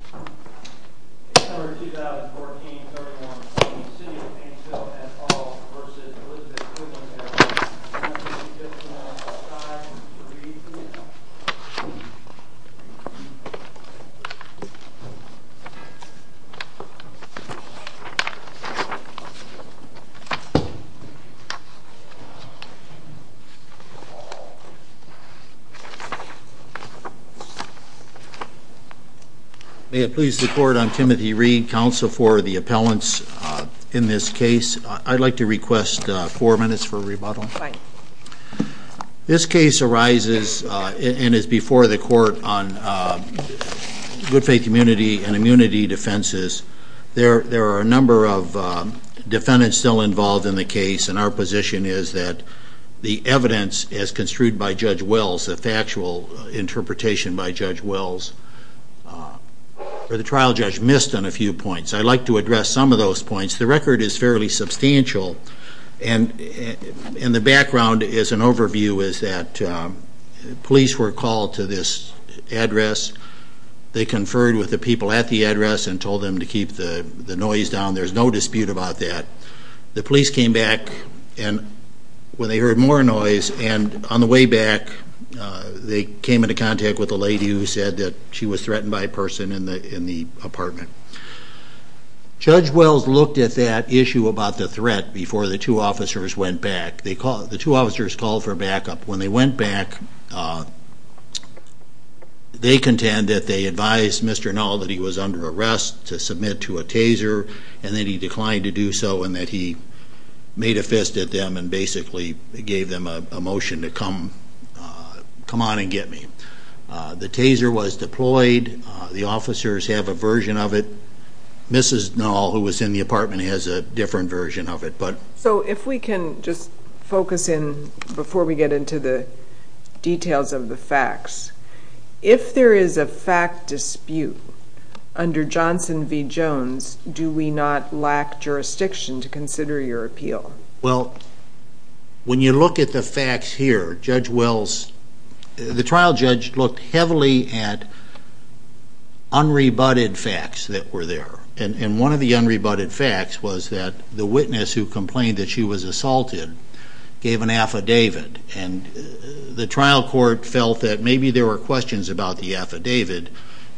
House Bill 2014-31 City of Painesville at all v. Elizabeth Goodwin May it please the court, I'm Timothy Reed, counsel for the appellants in this case. I'd like to request four minutes for rebuttal. This case arises and is before the court on good faith community and immunity defenses. There are a number of defendants still involved in the case and our position is that the evidence as construed by Judge Wells, a factual interpretation by Judge Wells, or the trial judge missed on a few points. I'd like to address some of those points. The record is fairly substantial and in the background is an overview is that police were called to this address. They conferred with the people at the address and told them to keep the noise down. There's no dispute about that. The police came back when they heard more noise and on the way back they came into contact with a lady who said she was threatened by a person in the apartment. Judge Wells looked at that issue about the threat before the two officers went back. The two officers called for backup. When they went back, they contend that they advised Mr. Knoll that he was under arrest to submit to a taser and that he declined to do so and that he made a fist at them and basically gave them a motion to come on and get me. The taser was deployed. The officers have a version of it. Mrs. Knoll, who was in the apartment, has a different version of it. If we can just focus in before we get into the details of the facts, if there is a fact dispute under Johnson v. Jones, do we not lack jurisdiction to consider your appeal? When you look at the facts here, the trial judge looked heavily at unrebutted facts that were there. One of the unrebutted facts was that the witness who complained that she was assaulted gave an affidavit. The trial court felt that maybe there were questions about the affidavit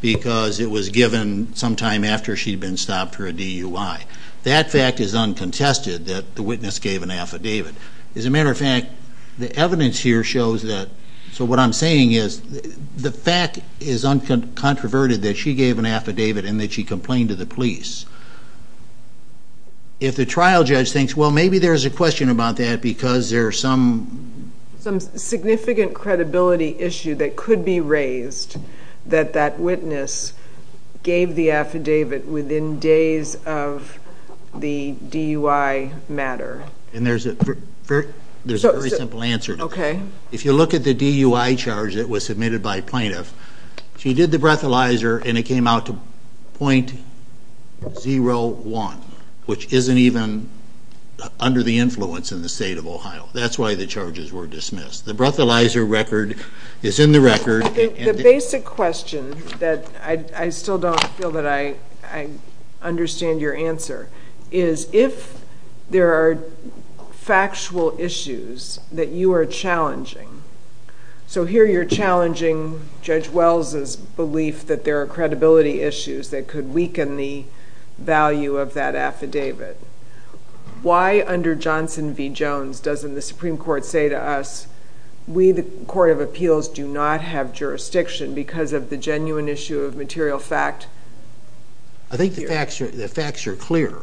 because it was given sometime after she had been stopped for a DUI. That fact is uncontested, that the witness gave an affidavit. As a matter of fact, the evidence here shows that, so what I'm saying is, the fact is uncontroverted that she gave an affidavit and that she complained to the police. If the trial judge thinks, well, maybe there's a question about that because there's some... that that witness gave the affidavit within days of the DUI matter. And there's a very simple answer to that. Okay. If you look at the DUI charge that was submitted by plaintiff, she did the breathalyzer and it came out to .01, which isn't even under the influence in the state of Ohio. That's why the charges were dismissed. The breathalyzer record is in the record. The basic question that I still don't feel that I understand your answer is, if there are factual issues that you are challenging, so here you're challenging Judge Wells' belief that there are credibility issues that could weaken the value of that affidavit. Why under Johnson v. Jones doesn't the Supreme Court say to us, we, the Court of Appeals, do not have jurisdiction because of the genuine issue of material fact? I think the facts are clear.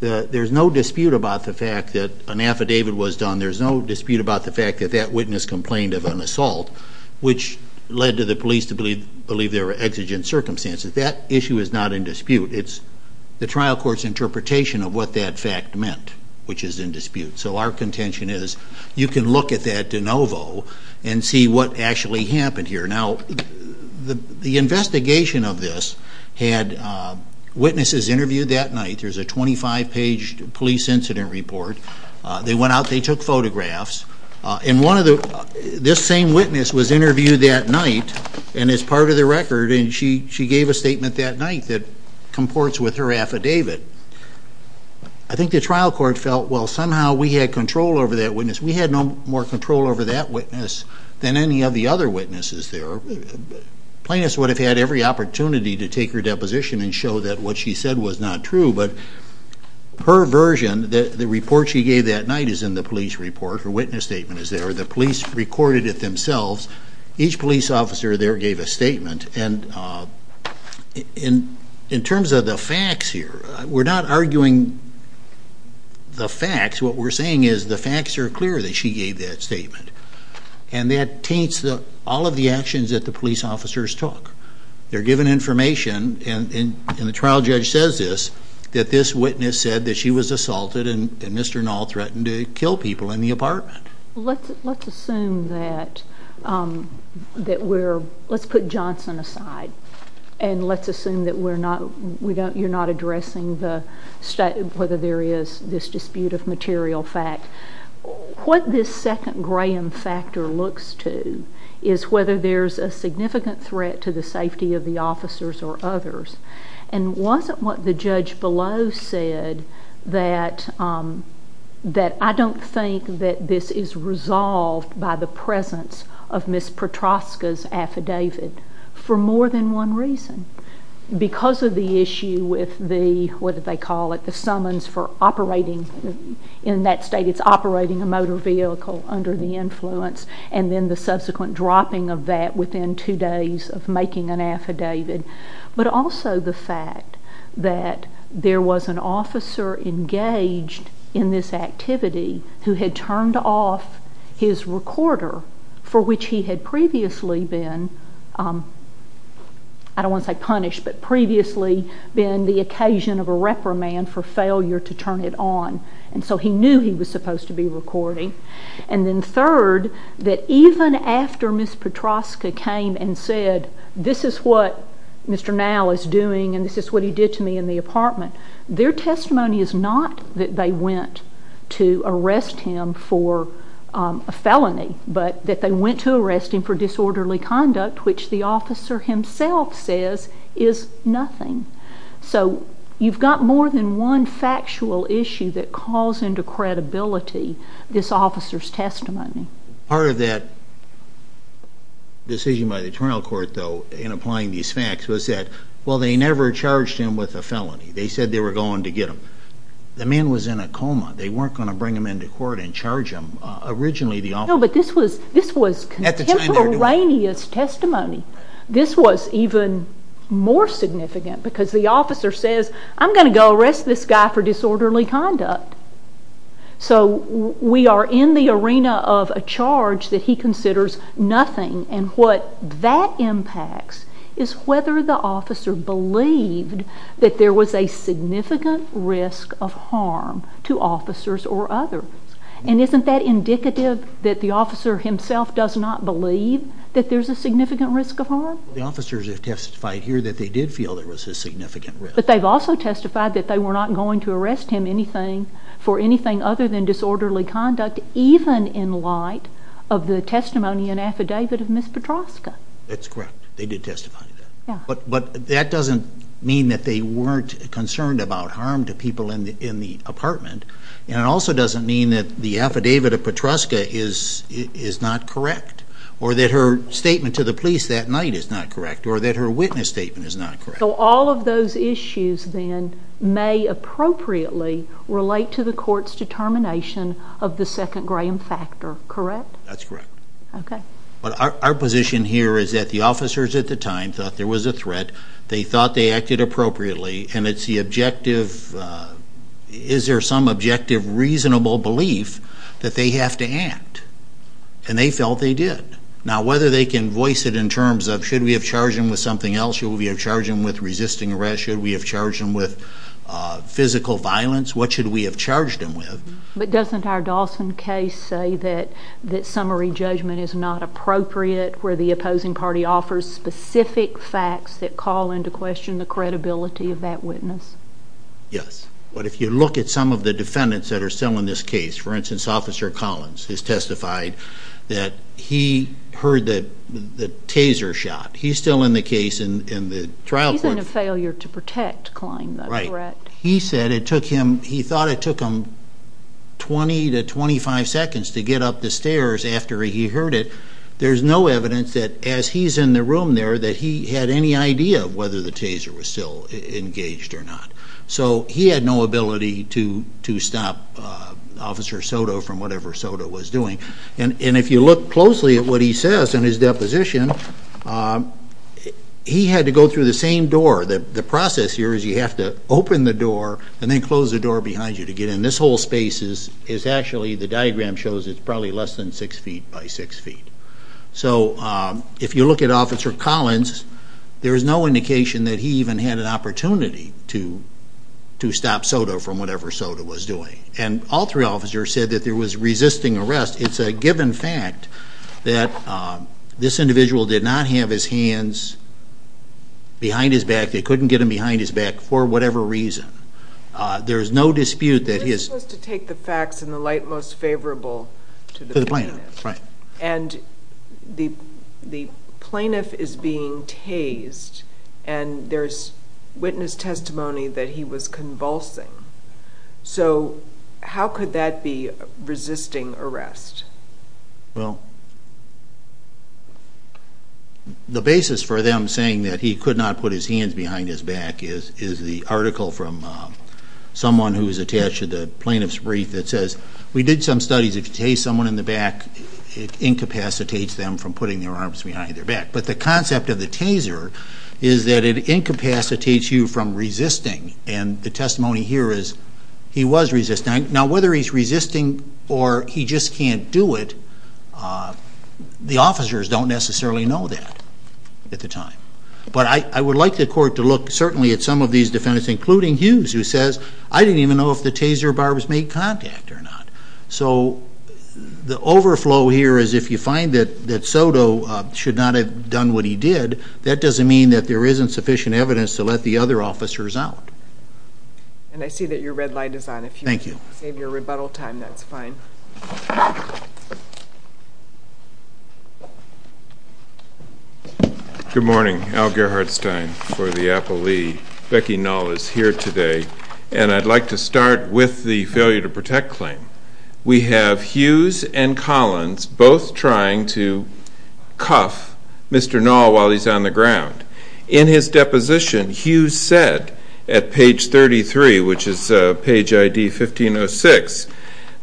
There's no dispute about the fact that an affidavit was done. There's no dispute about the fact that that witness complained of an assault, which led to the police to believe there were exigent circumstances. That issue is not in dispute. It's the trial court's interpretation of what that fact meant, which is in dispute. So our contention is, you can look at that de novo and see what actually happened here. Now, the investigation of this had witnesses interviewed that night. There's a 25-page police incident report. They went out. They took photographs. This same witness was interviewed that night and is part of the record, and she gave a statement that night that comports with her affidavit. I think the trial court felt, well, somehow we had control over that witness. We had no more control over that witness than any of the other witnesses there. Plaintiffs would have had every opportunity to take her deposition and show that what she said was not true, but her version, the report she gave that night is in the police report. Her witness statement is there. The police recorded it themselves. Each police officer there gave a statement, and in terms of the facts here, we're not arguing the facts. What we're saying is the facts are clear that she gave that statement, and that taints all of the actions that the police officers took. They're given information, and the trial judge says this, that this witness said that she was assaulted and Mr. Knoll threatened to kill people in the apartment. Let's assume that we'reólet's put Johnson aside, and let's assume that we're notóyou're not addressing whether there is this dispute of material fact. What this second Graham factor looks to is whether there's a significant threat to the safety of the officers or others, and wasn't what the judge below said that I don't think that this is resolved by the presence of Ms. Petroska's affidavit for more than one reason. Because of the issue with the, what do they call it, the summons for operatingóin that state it's operating a motor vehicle under the influence, and then the subsequent dropping of that within two days of making an affidavit, but also the fact that there was an officer engaged in this activity who had turned off his recorder, for which he had previously beenóI don't want to say punished, but previously been the occasion of a reprimand for failure to turn it on, and so he knew he was supposed to be recording. And then third, that even after Ms. Petroska came and said, this is what Mr. Knoll is doing, and this is what he did to me in the apartment, their testimony is not that they went to arrest him for a felony, but that they went to arrest him for disorderly conduct, which the officer himself says is nothing. So you've got more than one factual issue that calls into credibility this officer's testimony. Part of that decision by the attorney court, though, in applying these facts was that, well, they never charged him with a felony. They said they were going to get him. The man was in a coma. They weren't going to bring him into court and charge him. Originally the officeró No, but this was contemporaneous testimony. This was even more significant because the officer says, I'm going to go arrest this guy for disorderly conduct. So we are in the arena of a charge that he considers nothing, and what that impacts is whether the officer believed that there was a significant risk of harm to officers or others. And isn't that indicative that the officer himself does not believe that there's a significant risk of harm? The officers have testified here that they did feel there was a significant risk. But they've also testified that they were not going to arrest him for anything other than disorderly conduct, even in light of the testimony and affidavit of Ms. Petroska. That's correct. They did testify to that. But that doesn't mean that they weren't concerned about harm to people in the apartment, and it also doesn't mean that the affidavit of Petroska is not correct or that her statement to the police that night is not correct or that her witness statement is not correct. So all of those issues then may appropriately relate to the court's determination of the second graham factor, correct? That's correct. Okay. But our position here is that the officers at the time thought there was a threat, they thought they acted appropriately, and it's the objective, is there some objective reasonable belief that they have to act? And they felt they did. Now whether they can voice it in terms of should we have charged him with something else, should we have charged him with resisting arrest, should we have charged him with physical violence, what should we have charged him with? But doesn't our Dawson case say that summary judgment is not appropriate where the opposing party offers specific facts that call into question the credibility of that witness? Yes. But if you look at some of the defendants that are still in this case, for instance, Officer Collins has testified that he heard the taser shot. He's still in the case in the trial court. He's in a failure to protect Klein, though, correct? Right. He said it took him 20 to 25 seconds to get up the stairs after he heard it. There's no evidence that as he's in the room there that he had any idea of whether the taser was still engaged or not. So he had no ability to stop Officer Soto from whatever Soto was doing. And if you look closely at what he says in his deposition, he had to go through the same door. The process here is you have to open the door and then close the door behind you to get in. This whole space is actually the diagram shows it's probably less than 6 feet by 6 feet. So if you look at Officer Collins, there is no indication that he even had an opportunity to stop Soto from whatever Soto was doing. And all three officers said that there was resisting arrest. It's a given fact that this individual did not have his hands behind his back. They couldn't get them behind his back for whatever reason. There's no dispute that he is. The witness was to take the facts in the light most favorable to the plaintiff. And the plaintiff is being tased, and there's witness testimony that he was convulsing. So how could that be resisting arrest? Well, the basis for them saying that he could not put his hands behind his back is the article from someone who was attached to the plaintiff's brief that says, we did some studies. If you tase someone in the back, it incapacitates them from putting their arms behind their back. But the concept of the taser is that it incapacitates you from resisting. And the testimony here is he was resisting. Now, whether he's resisting or he just can't do it, the officers don't necessarily know that at the time. But I would like the court to look certainly at some of these defendants, including Hughes, who says, I didn't even know if the taser barbs made contact or not. So the overflow here is if you find that Soto should not have done what he did, that doesn't mean that there isn't sufficient evidence to let the other officers out. And I see that your red light is on. Thank you. If you want to save your rebuttal time, that's fine. Good morning. Al Gerhardstein for the Apple Lee. Becky Knoll is here today. And I'd like to start with the failure to protect claim. We have Hughes and Collins both trying to cuff Mr. Knoll while he's on the ground. In his deposition, Hughes said at page 33, which is page ID 1506,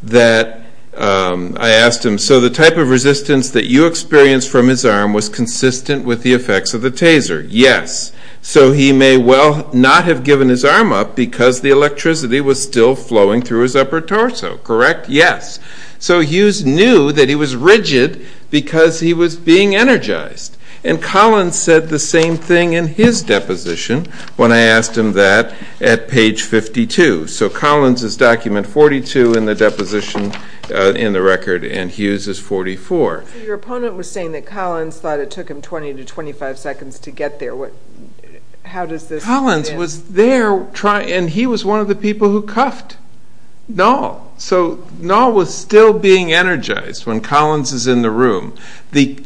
that I asked him, so the type of resistance that you experienced from his arm was consistent with the effects of the taser. Yes. So he may well not have given his arm up because the electricity was still flowing through his upper torso. Correct? Yes. So Hughes knew that he was rigid because he was being energized. And Collins said the same thing in his deposition when I asked him that at page 52. So Collins is document 42 in the deposition in the record, and Hughes is 44. Your opponent was saying that Collins thought it took him 20 to 25 seconds to get there. How does this fit in? Collins was there, and he was one of the people who cuffed Knoll. So Knoll was still being energized when Collins is in the room. The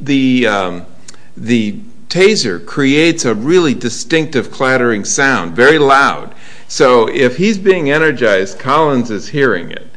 taser creates a really distinctive clattering sound, very loud. So if he's being energized, Collins is hearing it.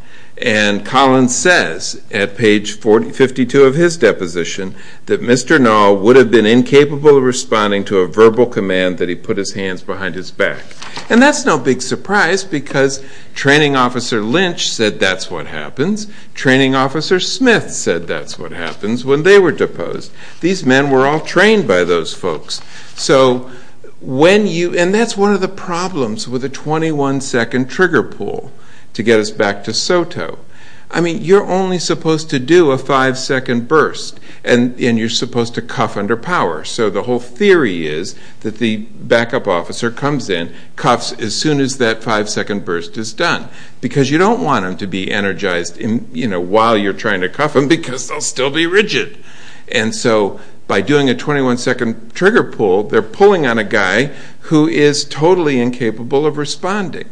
And Collins says, at page 52 of his deposition, that Mr. Knoll would have been incapable of responding to a verbal command that he put his hands behind his back. And that's no big surprise because training officer Lynch said that's what happens. Training officer Smith said that's what happens when they were deposed. These men were all trained by those folks. And that's one of the problems with a 21-second trigger pull to get us back to SOTO. You're only supposed to do a 5-second burst, and you're supposed to cuff under power. So the whole theory is that the backup officer comes in, cuffs as soon as that 5-second burst is done. Because you don't want them to be energized while you're trying to cuff them because they'll still be rigid. And so by doing a 21-second trigger pull, they're pulling on a guy who is totally incapable of responding.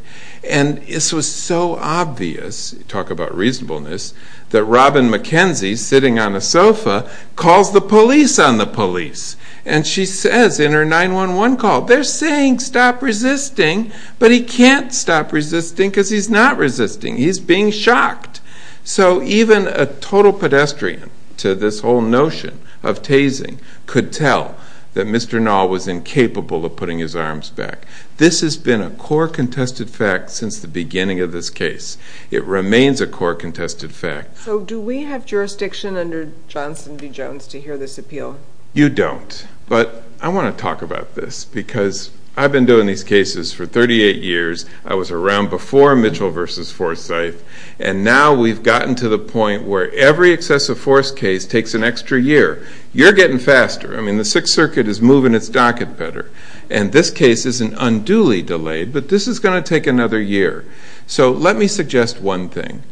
And this was so obvious, talk about reasonableness, that Robin McKenzie, sitting on a sofa, calls the police on the police. And she says in her 911 call, they're saying stop resisting, but he can't stop resisting because he's not resisting, he's being shocked. So even a total pedestrian to this whole notion of tasing could tell that Mr. Nall was incapable of putting his arms back. This has been a core contested fact since the beginning of this case. It remains a core contested fact. So do we have jurisdiction under Johnson v. Jones to hear this appeal? You don't. But I want to talk about this because I've been doing these cases for 38 years. I was around before Mitchell v. Forsythe. And now we've gotten to the point where every excessive force case takes an extra year. You're getting faster. I mean, the Sixth Circuit is moving its docket better. And this case isn't unduly delayed, but this is going to take another year. So let me suggest one thing.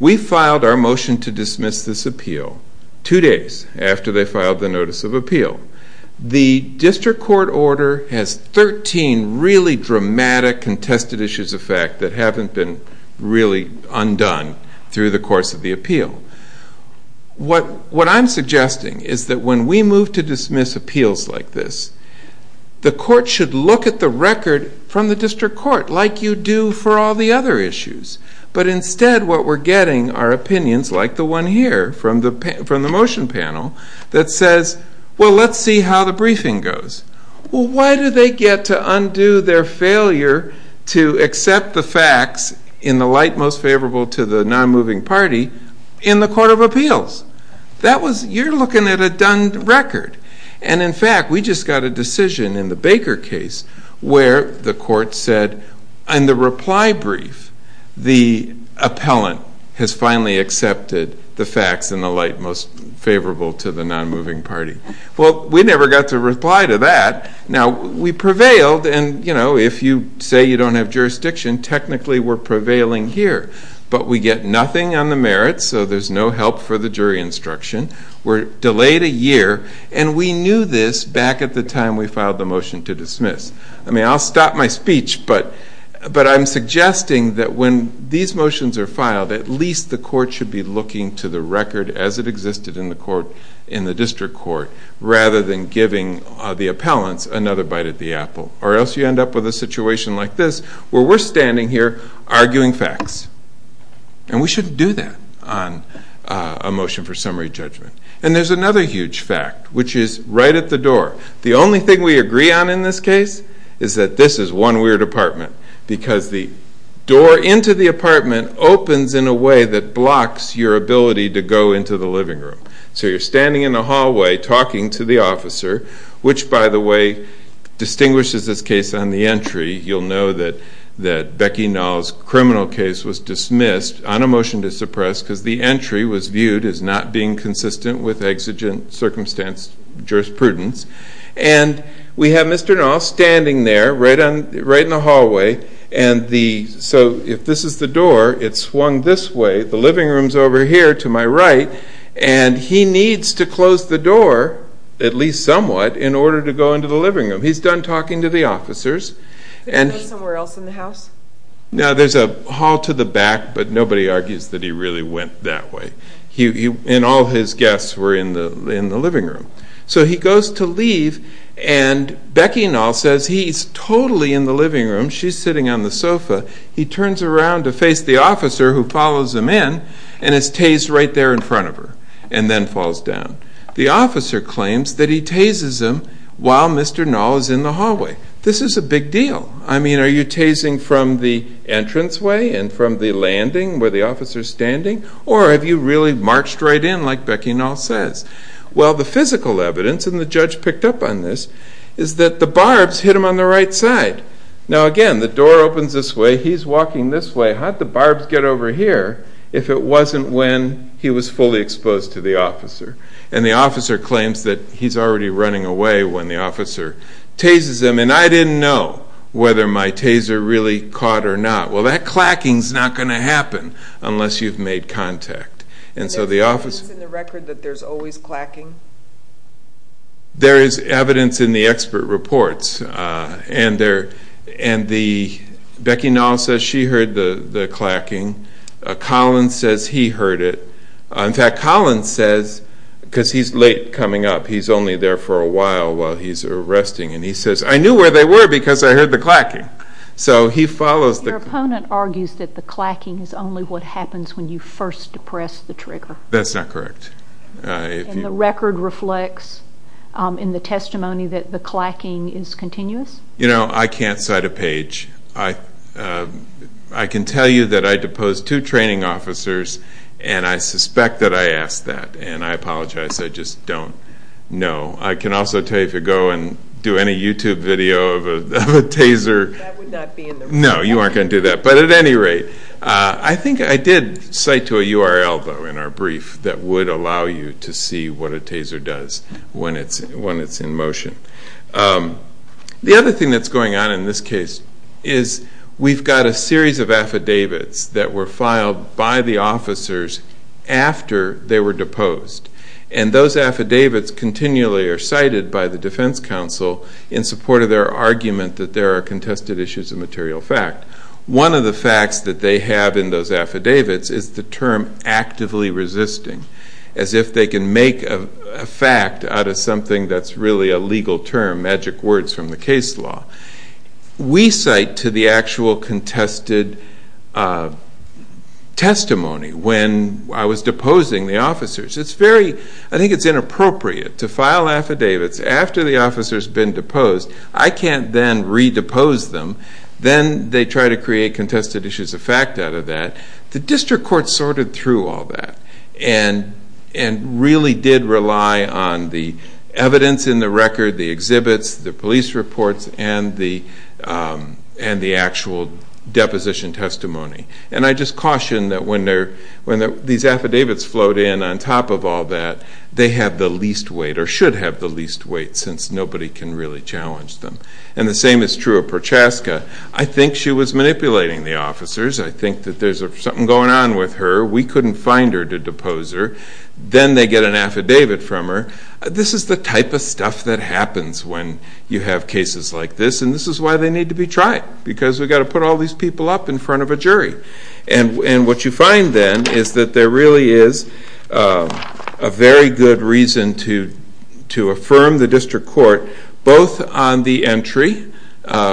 We filed our motion to dismiss this appeal two days after they filed the notice of appeal. The district court order has 13 really dramatic contested issues of fact that haven't been really undone through the course of the appeal. What I'm suggesting is that when we move to dismiss appeals like this, the court should look at the record from the district court like you do for all the other issues. But instead what we're getting are opinions like the one here from the motion panel that says, well, let's see how the briefing goes. Well, why do they get to undo their failure to accept the facts in the light most favorable to the nonmoving party in the court of appeals? You're looking at a done record. And, in fact, we just got a decision in the Baker case where the court said in the reply brief the appellant has finally accepted the facts in the light most favorable to the nonmoving party. Well, we never got to reply to that. Now, we prevailed, and if you say you don't have jurisdiction, technically we're prevailing here. But we get nothing on the merits, so there's no help for the jury instruction. We're delayed a year, and we knew this back at the time we filed the motion to dismiss. I mean, I'll stop my speech, but I'm suggesting that when these motions are filed, at least the court should be looking to the record as it existed in the district court rather than giving the appellants another bite at the apple. Or else you end up with a situation like this where we're standing here arguing facts. And we shouldn't do that on a motion for summary judgment. And there's another huge fact, which is right at the door. The only thing we agree on in this case is that this is one weird apartment because the door into the apartment opens in a way that blocks your ability to go into the living room. So you're standing in the hallway talking to the officer, which, by the way, distinguishes this case on the entry. You'll know that Becky Nall's criminal case was dismissed on a motion to suppress because the entry was viewed as not being consistent with exigent circumstance jurisprudence. And we have Mr. Nall standing there right in the hallway. So if this is the door, it's swung this way. The living room's over here to my right. And he needs to close the door at least somewhat in order to go into the living room. He's done talking to the officers. Could he be somewhere else in the house? Now, there's a hall to the back, but nobody argues that he really went that way. And all his guests were in the living room. So he goes to leave, and Becky Nall says he's totally in the living room. She's sitting on the sofa. He turns around to face the officer who follows him in, and is tased right there in front of her and then falls down. The officer claims that he tases him while Mr. Nall is in the hallway. This is a big deal. I mean, are you tasing from the entranceway and from the landing where the officer's standing? Or have you really marched right in like Becky Nall says? Well, the physical evidence, and the judge picked up on this, is that the barbs hit him on the right side. Now, again, the door opens this way. He's walking this way. How'd the barbs get over here if it wasn't when he was fully exposed to the officer? And the officer claims that he's already running away when the officer tases him. And I didn't know whether my taser really caught or not. Well, that clacking's not going to happen unless you've made contact. Is there evidence in the record that there's always clacking? There is evidence in the expert reports. And Becky Nall says she heard the clacking. Colin says he heard it. In fact, Colin says, because he's late coming up, he's only there for a while while he's resting, and he says, I knew where they were because I heard the clacking. So he follows the clacking. Your opponent argues that the clacking is only what happens when you first depress the trigger. That's not correct. And the record reflects in the testimony that the clacking is continuous? You know, I can't cite a page. I can tell you that I deposed two training officers, and I suspect that I asked that. And I apologize. I just don't know. I can also tell you if you go and do any YouTube video of a taser. That would not be in the record. No, you aren't going to do that. But at any rate, I think I did cite to a URL, though, in our brief, that would allow you to see what a taser does when it's in motion. The other thing that's going on in this case is we've got a series of affidavits that were filed by the officers after they were deposed. And those affidavits continually are cited by the defense counsel in support of their argument that there are contested issues of material fact. One of the facts that they have in those affidavits is the term actively resisting, as if they can make a fact out of something that's really a legal term, magic words from the case law. We cite to the actual contested testimony when I was deposing the officers. I think it's inappropriate to file affidavits after the officer's been deposed. I can't then re-depose them. Then they try to create contested issues of fact out of that. The district court sorted through all that and really did rely on the evidence in the record, the exhibits, the police reports, and the actual deposition testimony. And I just caution that when these affidavits float in on top of all that, they have the least weight or should have the least weight since nobody can really challenge them. And the same is true of Prochaska. I think she was manipulating the officers. I think that there's something going on with her. We couldn't find her to depose her. Then they get an affidavit from her. This is the type of stuff that happens when you have cases like this, and this is why they need to be tried because we've got to put all these people up in front of a jury. And what you find then is that there really is a very good reason to affirm the district court, both on the entry,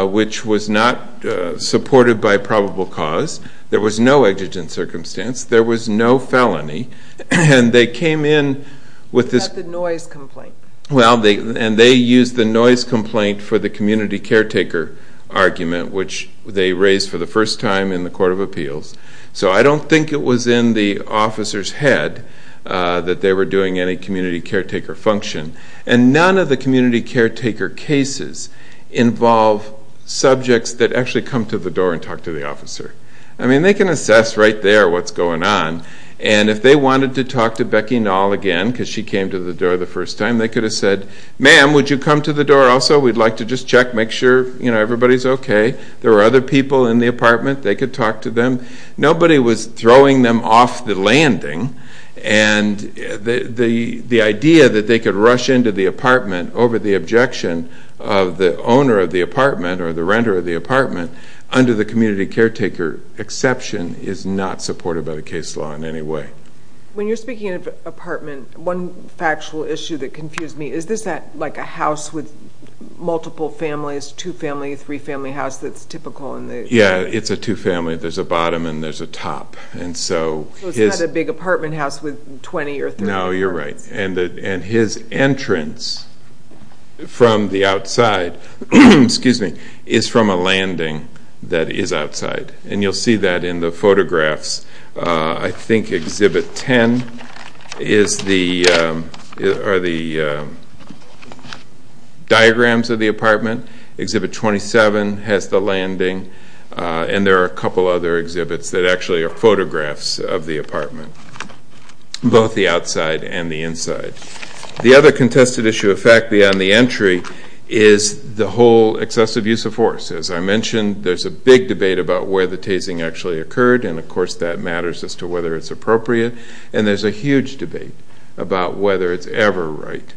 which was not supported by probable cause. There was no exigent circumstance. There was no felony. And they came in with this. The noise complaint. And they used the noise complaint for the community caretaker argument, which they raised for the first time in the court of appeals. So I don't think it was in the officer's head that they were doing any community caretaker function. And none of the community caretaker cases involve subjects that actually come to the door and talk to the officer. I mean, they can assess right there what's going on. And if they wanted to talk to Becky Knoll again because she came to the door the first time, they could have said, Ma'am, would you come to the door also? We'd like to just check, make sure everybody's okay. There were other people in the apartment. They could talk to them. Nobody was throwing them off the landing. And the idea that they could rush into the apartment over the objection of the owner of the apartment or the renter of the apartment under the community caretaker exception is not supported by the case law in any way. When you're speaking of apartment, one factual issue that confused me, is this like a house with multiple families, two-family, three-family house that's typical? Yeah, it's a two-family. There's a bottom and there's a top. So it's not a big apartment house with 20 or 30 apartments. No, you're right. And his entrance from the outside is from a landing that is outside. And you'll see that in the photographs. I think Exhibit 10 are the diagrams of the apartment. Exhibit 27 has the landing. And there are a couple other exhibits that actually are photographs of the apartment, both the outside and the inside. The other contested issue, in fact, beyond the entry, is the whole excessive use of force. As I mentioned, there's a big debate about where the tasing actually occurred. And, of course, that matters as to whether it's appropriate. And there's a huge debate about whether it's ever right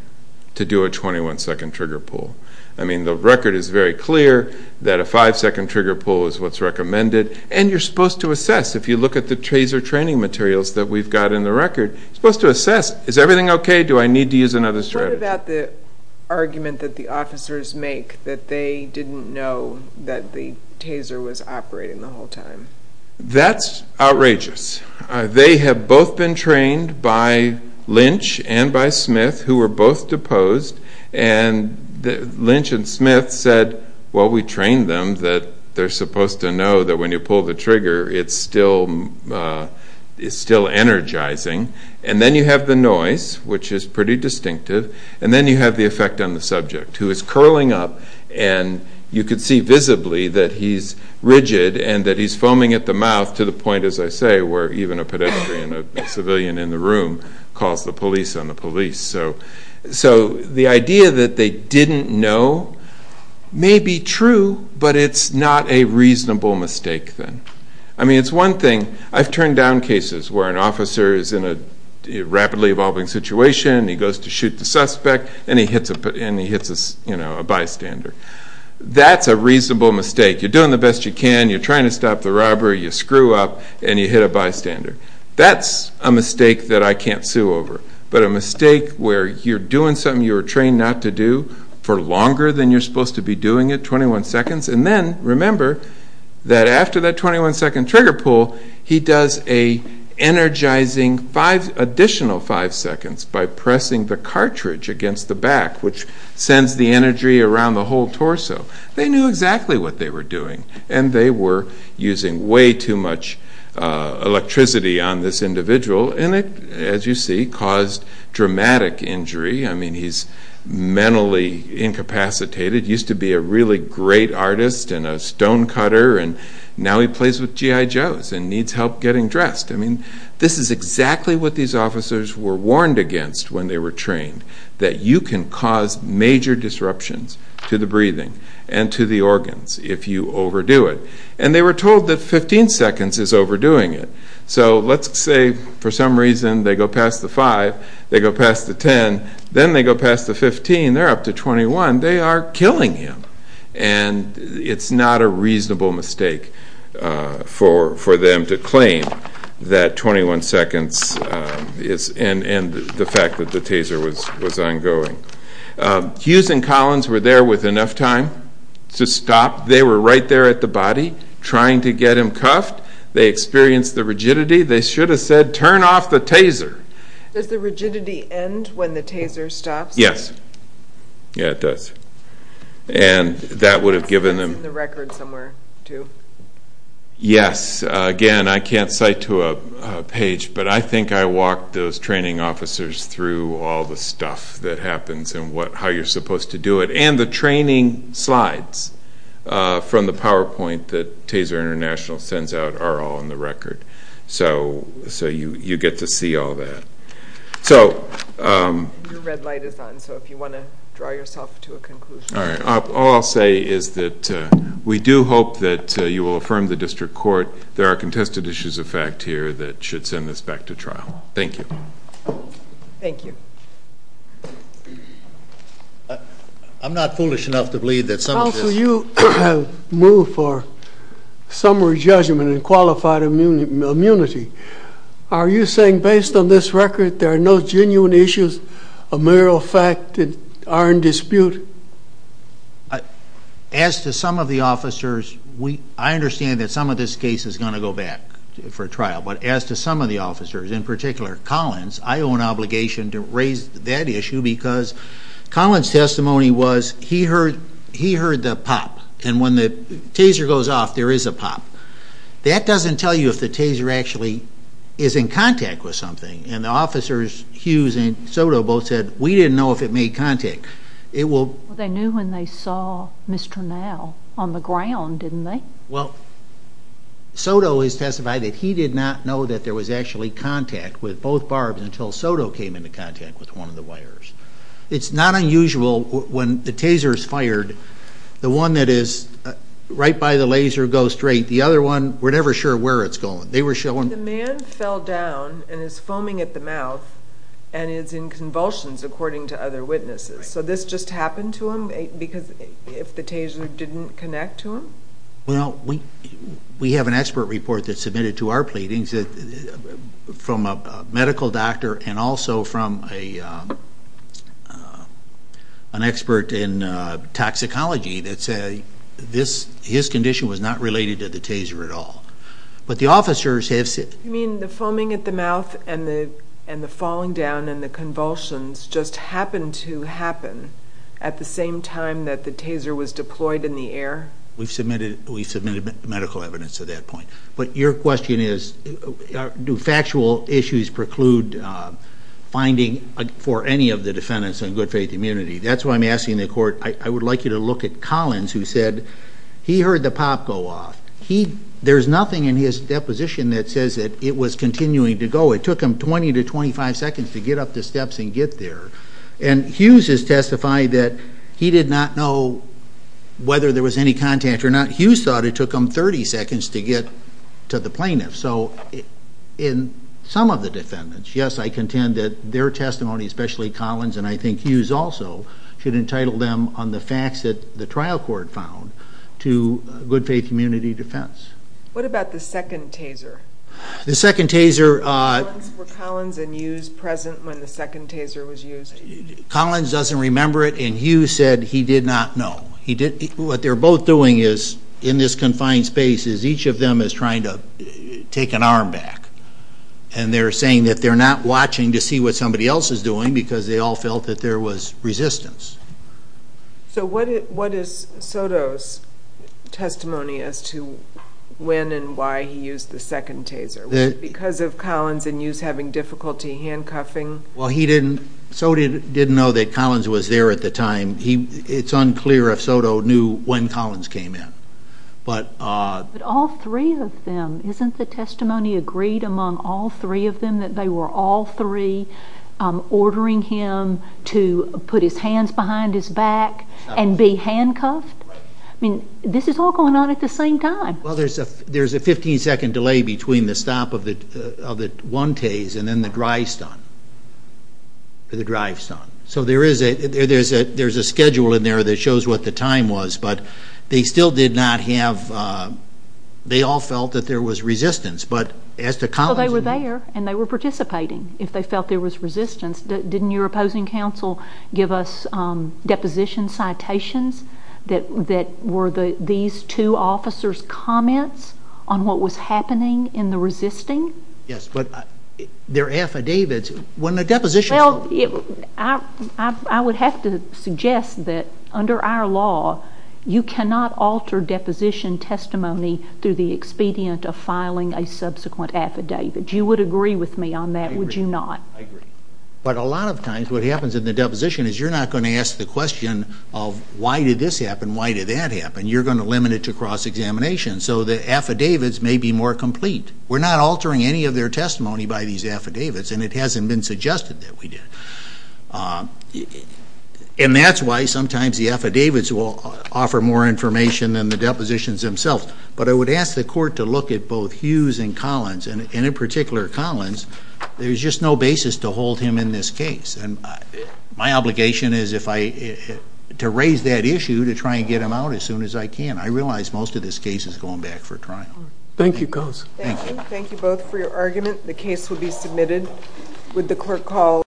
to do a 21-second trigger pull. I mean, the record is very clear that a 5-second trigger pull is what's recommended. And you're supposed to assess. If you look at the Taser training materials that we've got in the record, you're supposed to assess, is everything okay? Do I need to use another strategy? What about the argument that the officers make that they didn't know that the Taser was operating the whole time? That's outrageous. They have both been trained by Lynch and by Smith, who were both deposed. And Lynch and Smith said, well, we trained them that they're supposed to know that when you pull the trigger, it's still energizing. And then you have the noise, which is pretty distinctive. And then you have the effect on the subject, who is curling up. And you can see visibly that he's rigid and that he's foaming at the mouth to the point, as I say, where even a pedestrian, a civilian in the room, calls the police on the police. So the idea that they didn't know may be true, but it's not a reasonable mistake then. I mean, it's one thing. I've turned down cases where an officer is in a rapidly evolving situation, he goes to shoot the suspect, and he hits a bystander. That's a reasonable mistake. You're doing the best you can, you're trying to stop the robber, you screw up, and you hit a bystander. That's a mistake that I can't sue over. But a mistake where you're doing something you were trained not to do for longer than you're supposed to be doing it, 21 seconds, and then remember that after that 21-second trigger pull, he does an energizing additional 5 seconds by pressing the cartridge against the back, which sends the energy around the whole torso. They knew exactly what they were doing, and they were using way too much electricity on this individual, and it, as you see, caused dramatic injury. I mean, he's mentally incapacitated. He used to be a really great artist and a stonecutter, and now he plays with G.I. Joes and needs help getting dressed. I mean, this is exactly what these officers were warned against when they were trained, that you can cause major disruptions to the breathing and to the organs if you overdo it. And they were told that 15 seconds is overdoing it. So let's say for some reason they go past the 5, they go past the 10, then they go past the 15, they're up to 21. They are killing him, and it's not a reasonable mistake for them to claim that 21 seconds is, and the fact that the taser was ongoing. Hughes and Collins were there with enough time to stop. They were right there at the body trying to get him cuffed. They experienced the rigidity. They should have said, turn off the taser. Does the rigidity end when the taser stops? Yes. Yeah, it does. And that would have given them... That's in the record somewhere, too. Yes. Again, I can't cite to a page, but I think I walked those training officers through all the stuff that happens and how you're supposed to do it, and the training slides from the PowerPoint that Taser International sends out are all in the record. So you get to see all that. Your red light is on, so if you want to draw yourself to a conclusion. All right. All I'll say is that we do hope that you will affirm the district court. There are contested issues of fact here that should send this back to trial. Thank you. Thank you. I'm not foolish enough to believe that some of this... Counsel, you have moved for summary judgment and qualified immunity. Are you saying based on this record there are no genuine issues of moral fact that are in dispute? As to some of the officers, I understand that some of this case is going to go back for trial, but as to some of the officers, in particular Collins, I owe an obligation to raise that issue because Collins' testimony was he heard the pop, and when the taser goes off, there is a pop. That doesn't tell you if the taser actually is in contact with something, and the officers, Hughes and Soto, both said, we didn't know if it made contact. They knew when they saw Mr. Now on the ground, didn't they? Well, Soto has testified that he did not know that there was actually contact with both barbs until Soto came into contact with one of the wires. It's not unusual when the taser is fired, the one that is right by the laser goes straight. The other one, we're never sure where it's going. The man fell down and is foaming at the mouth and is in convulsions, according to other witnesses. So this just happened to him because the taser didn't connect to him? Well, we have an expert report that's submitted to our pleadings from a medical doctor and also from an expert in toxicology that says his condition was not related to the taser at all. But the officers have said... You mean the foaming at the mouth and the falling down and the convulsions just happened to happen at the same time that the taser was deployed in the air? We've submitted medical evidence to that point. But your question is, do factual issues preclude finding for any of the defendants on good faith immunity? That's why I'm asking the court, I would like you to look at Collins, who said he heard the pop go off. There's nothing in his deposition that says that it was continuing to go. It took him 20 to 25 seconds to get up the steps and get there. And Hughes has testified that he did not know whether there was any contact or not. Hughes thought it took him 30 seconds to get to the plaintiff. So in some of the defendants, yes, I contend that their testimony, especially Collins, and I think Hughes also, should entitle them on the facts that the trial court found to good faith immunity defense. What about the second taser? The second taser... Were Collins and Hughes present when the second taser was used? Collins doesn't remember it, and Hughes said he did not know. What they're both doing in this confined space is each of them is trying to take an arm back. And they're saying that they're not watching to see what somebody else is doing because they all felt that there was resistance. So what is Soto's testimony as to when and why he used the second taser? Was it because of Collins and Hughes having difficulty handcuffing? Soto didn't know that Collins was there at the time. It's unclear if Soto knew when Collins came in. But all three of them, isn't the testimony agreed among all three of them that they were all three ordering him to put his hands behind his back and be handcuffed? I mean, this is all going on at the same time. Well, there's a 15-second delay between the stop of the one taser and then the drive stun. So there's a schedule in there that shows what the time was, but they all felt that there was resistance. Well, they were there, and they were participating if they felt there was resistance. Didn't your opposing counsel give us deposition citations that were these two officers' comments on what was happening in the resisting? Yes, but they're affidavits when the deposition is over. Well, I would have to suggest that under our law, you cannot alter deposition testimony through the expedient of filing a subsequent affidavit. You would agree with me on that, would you not? I agree. But a lot of times what happens in the deposition is you're not going to ask the question of why did this happen, why did that happen. You're going to limit it to cross-examination. So the affidavits may be more complete. We're not altering any of their testimony by these affidavits, and it hasn't been suggested that we did. And that's why sometimes the affidavits will offer more information than the depositions themselves. But I would ask the court to look at both Hughes and Collins, and in particular Collins. There's just no basis to hold him in this case. And my obligation is to raise that issue to try and get him out as soon as I can. I realize most of this case is going back for trial. Thank you. Thank you both for your argument. The case will be submitted with the court call.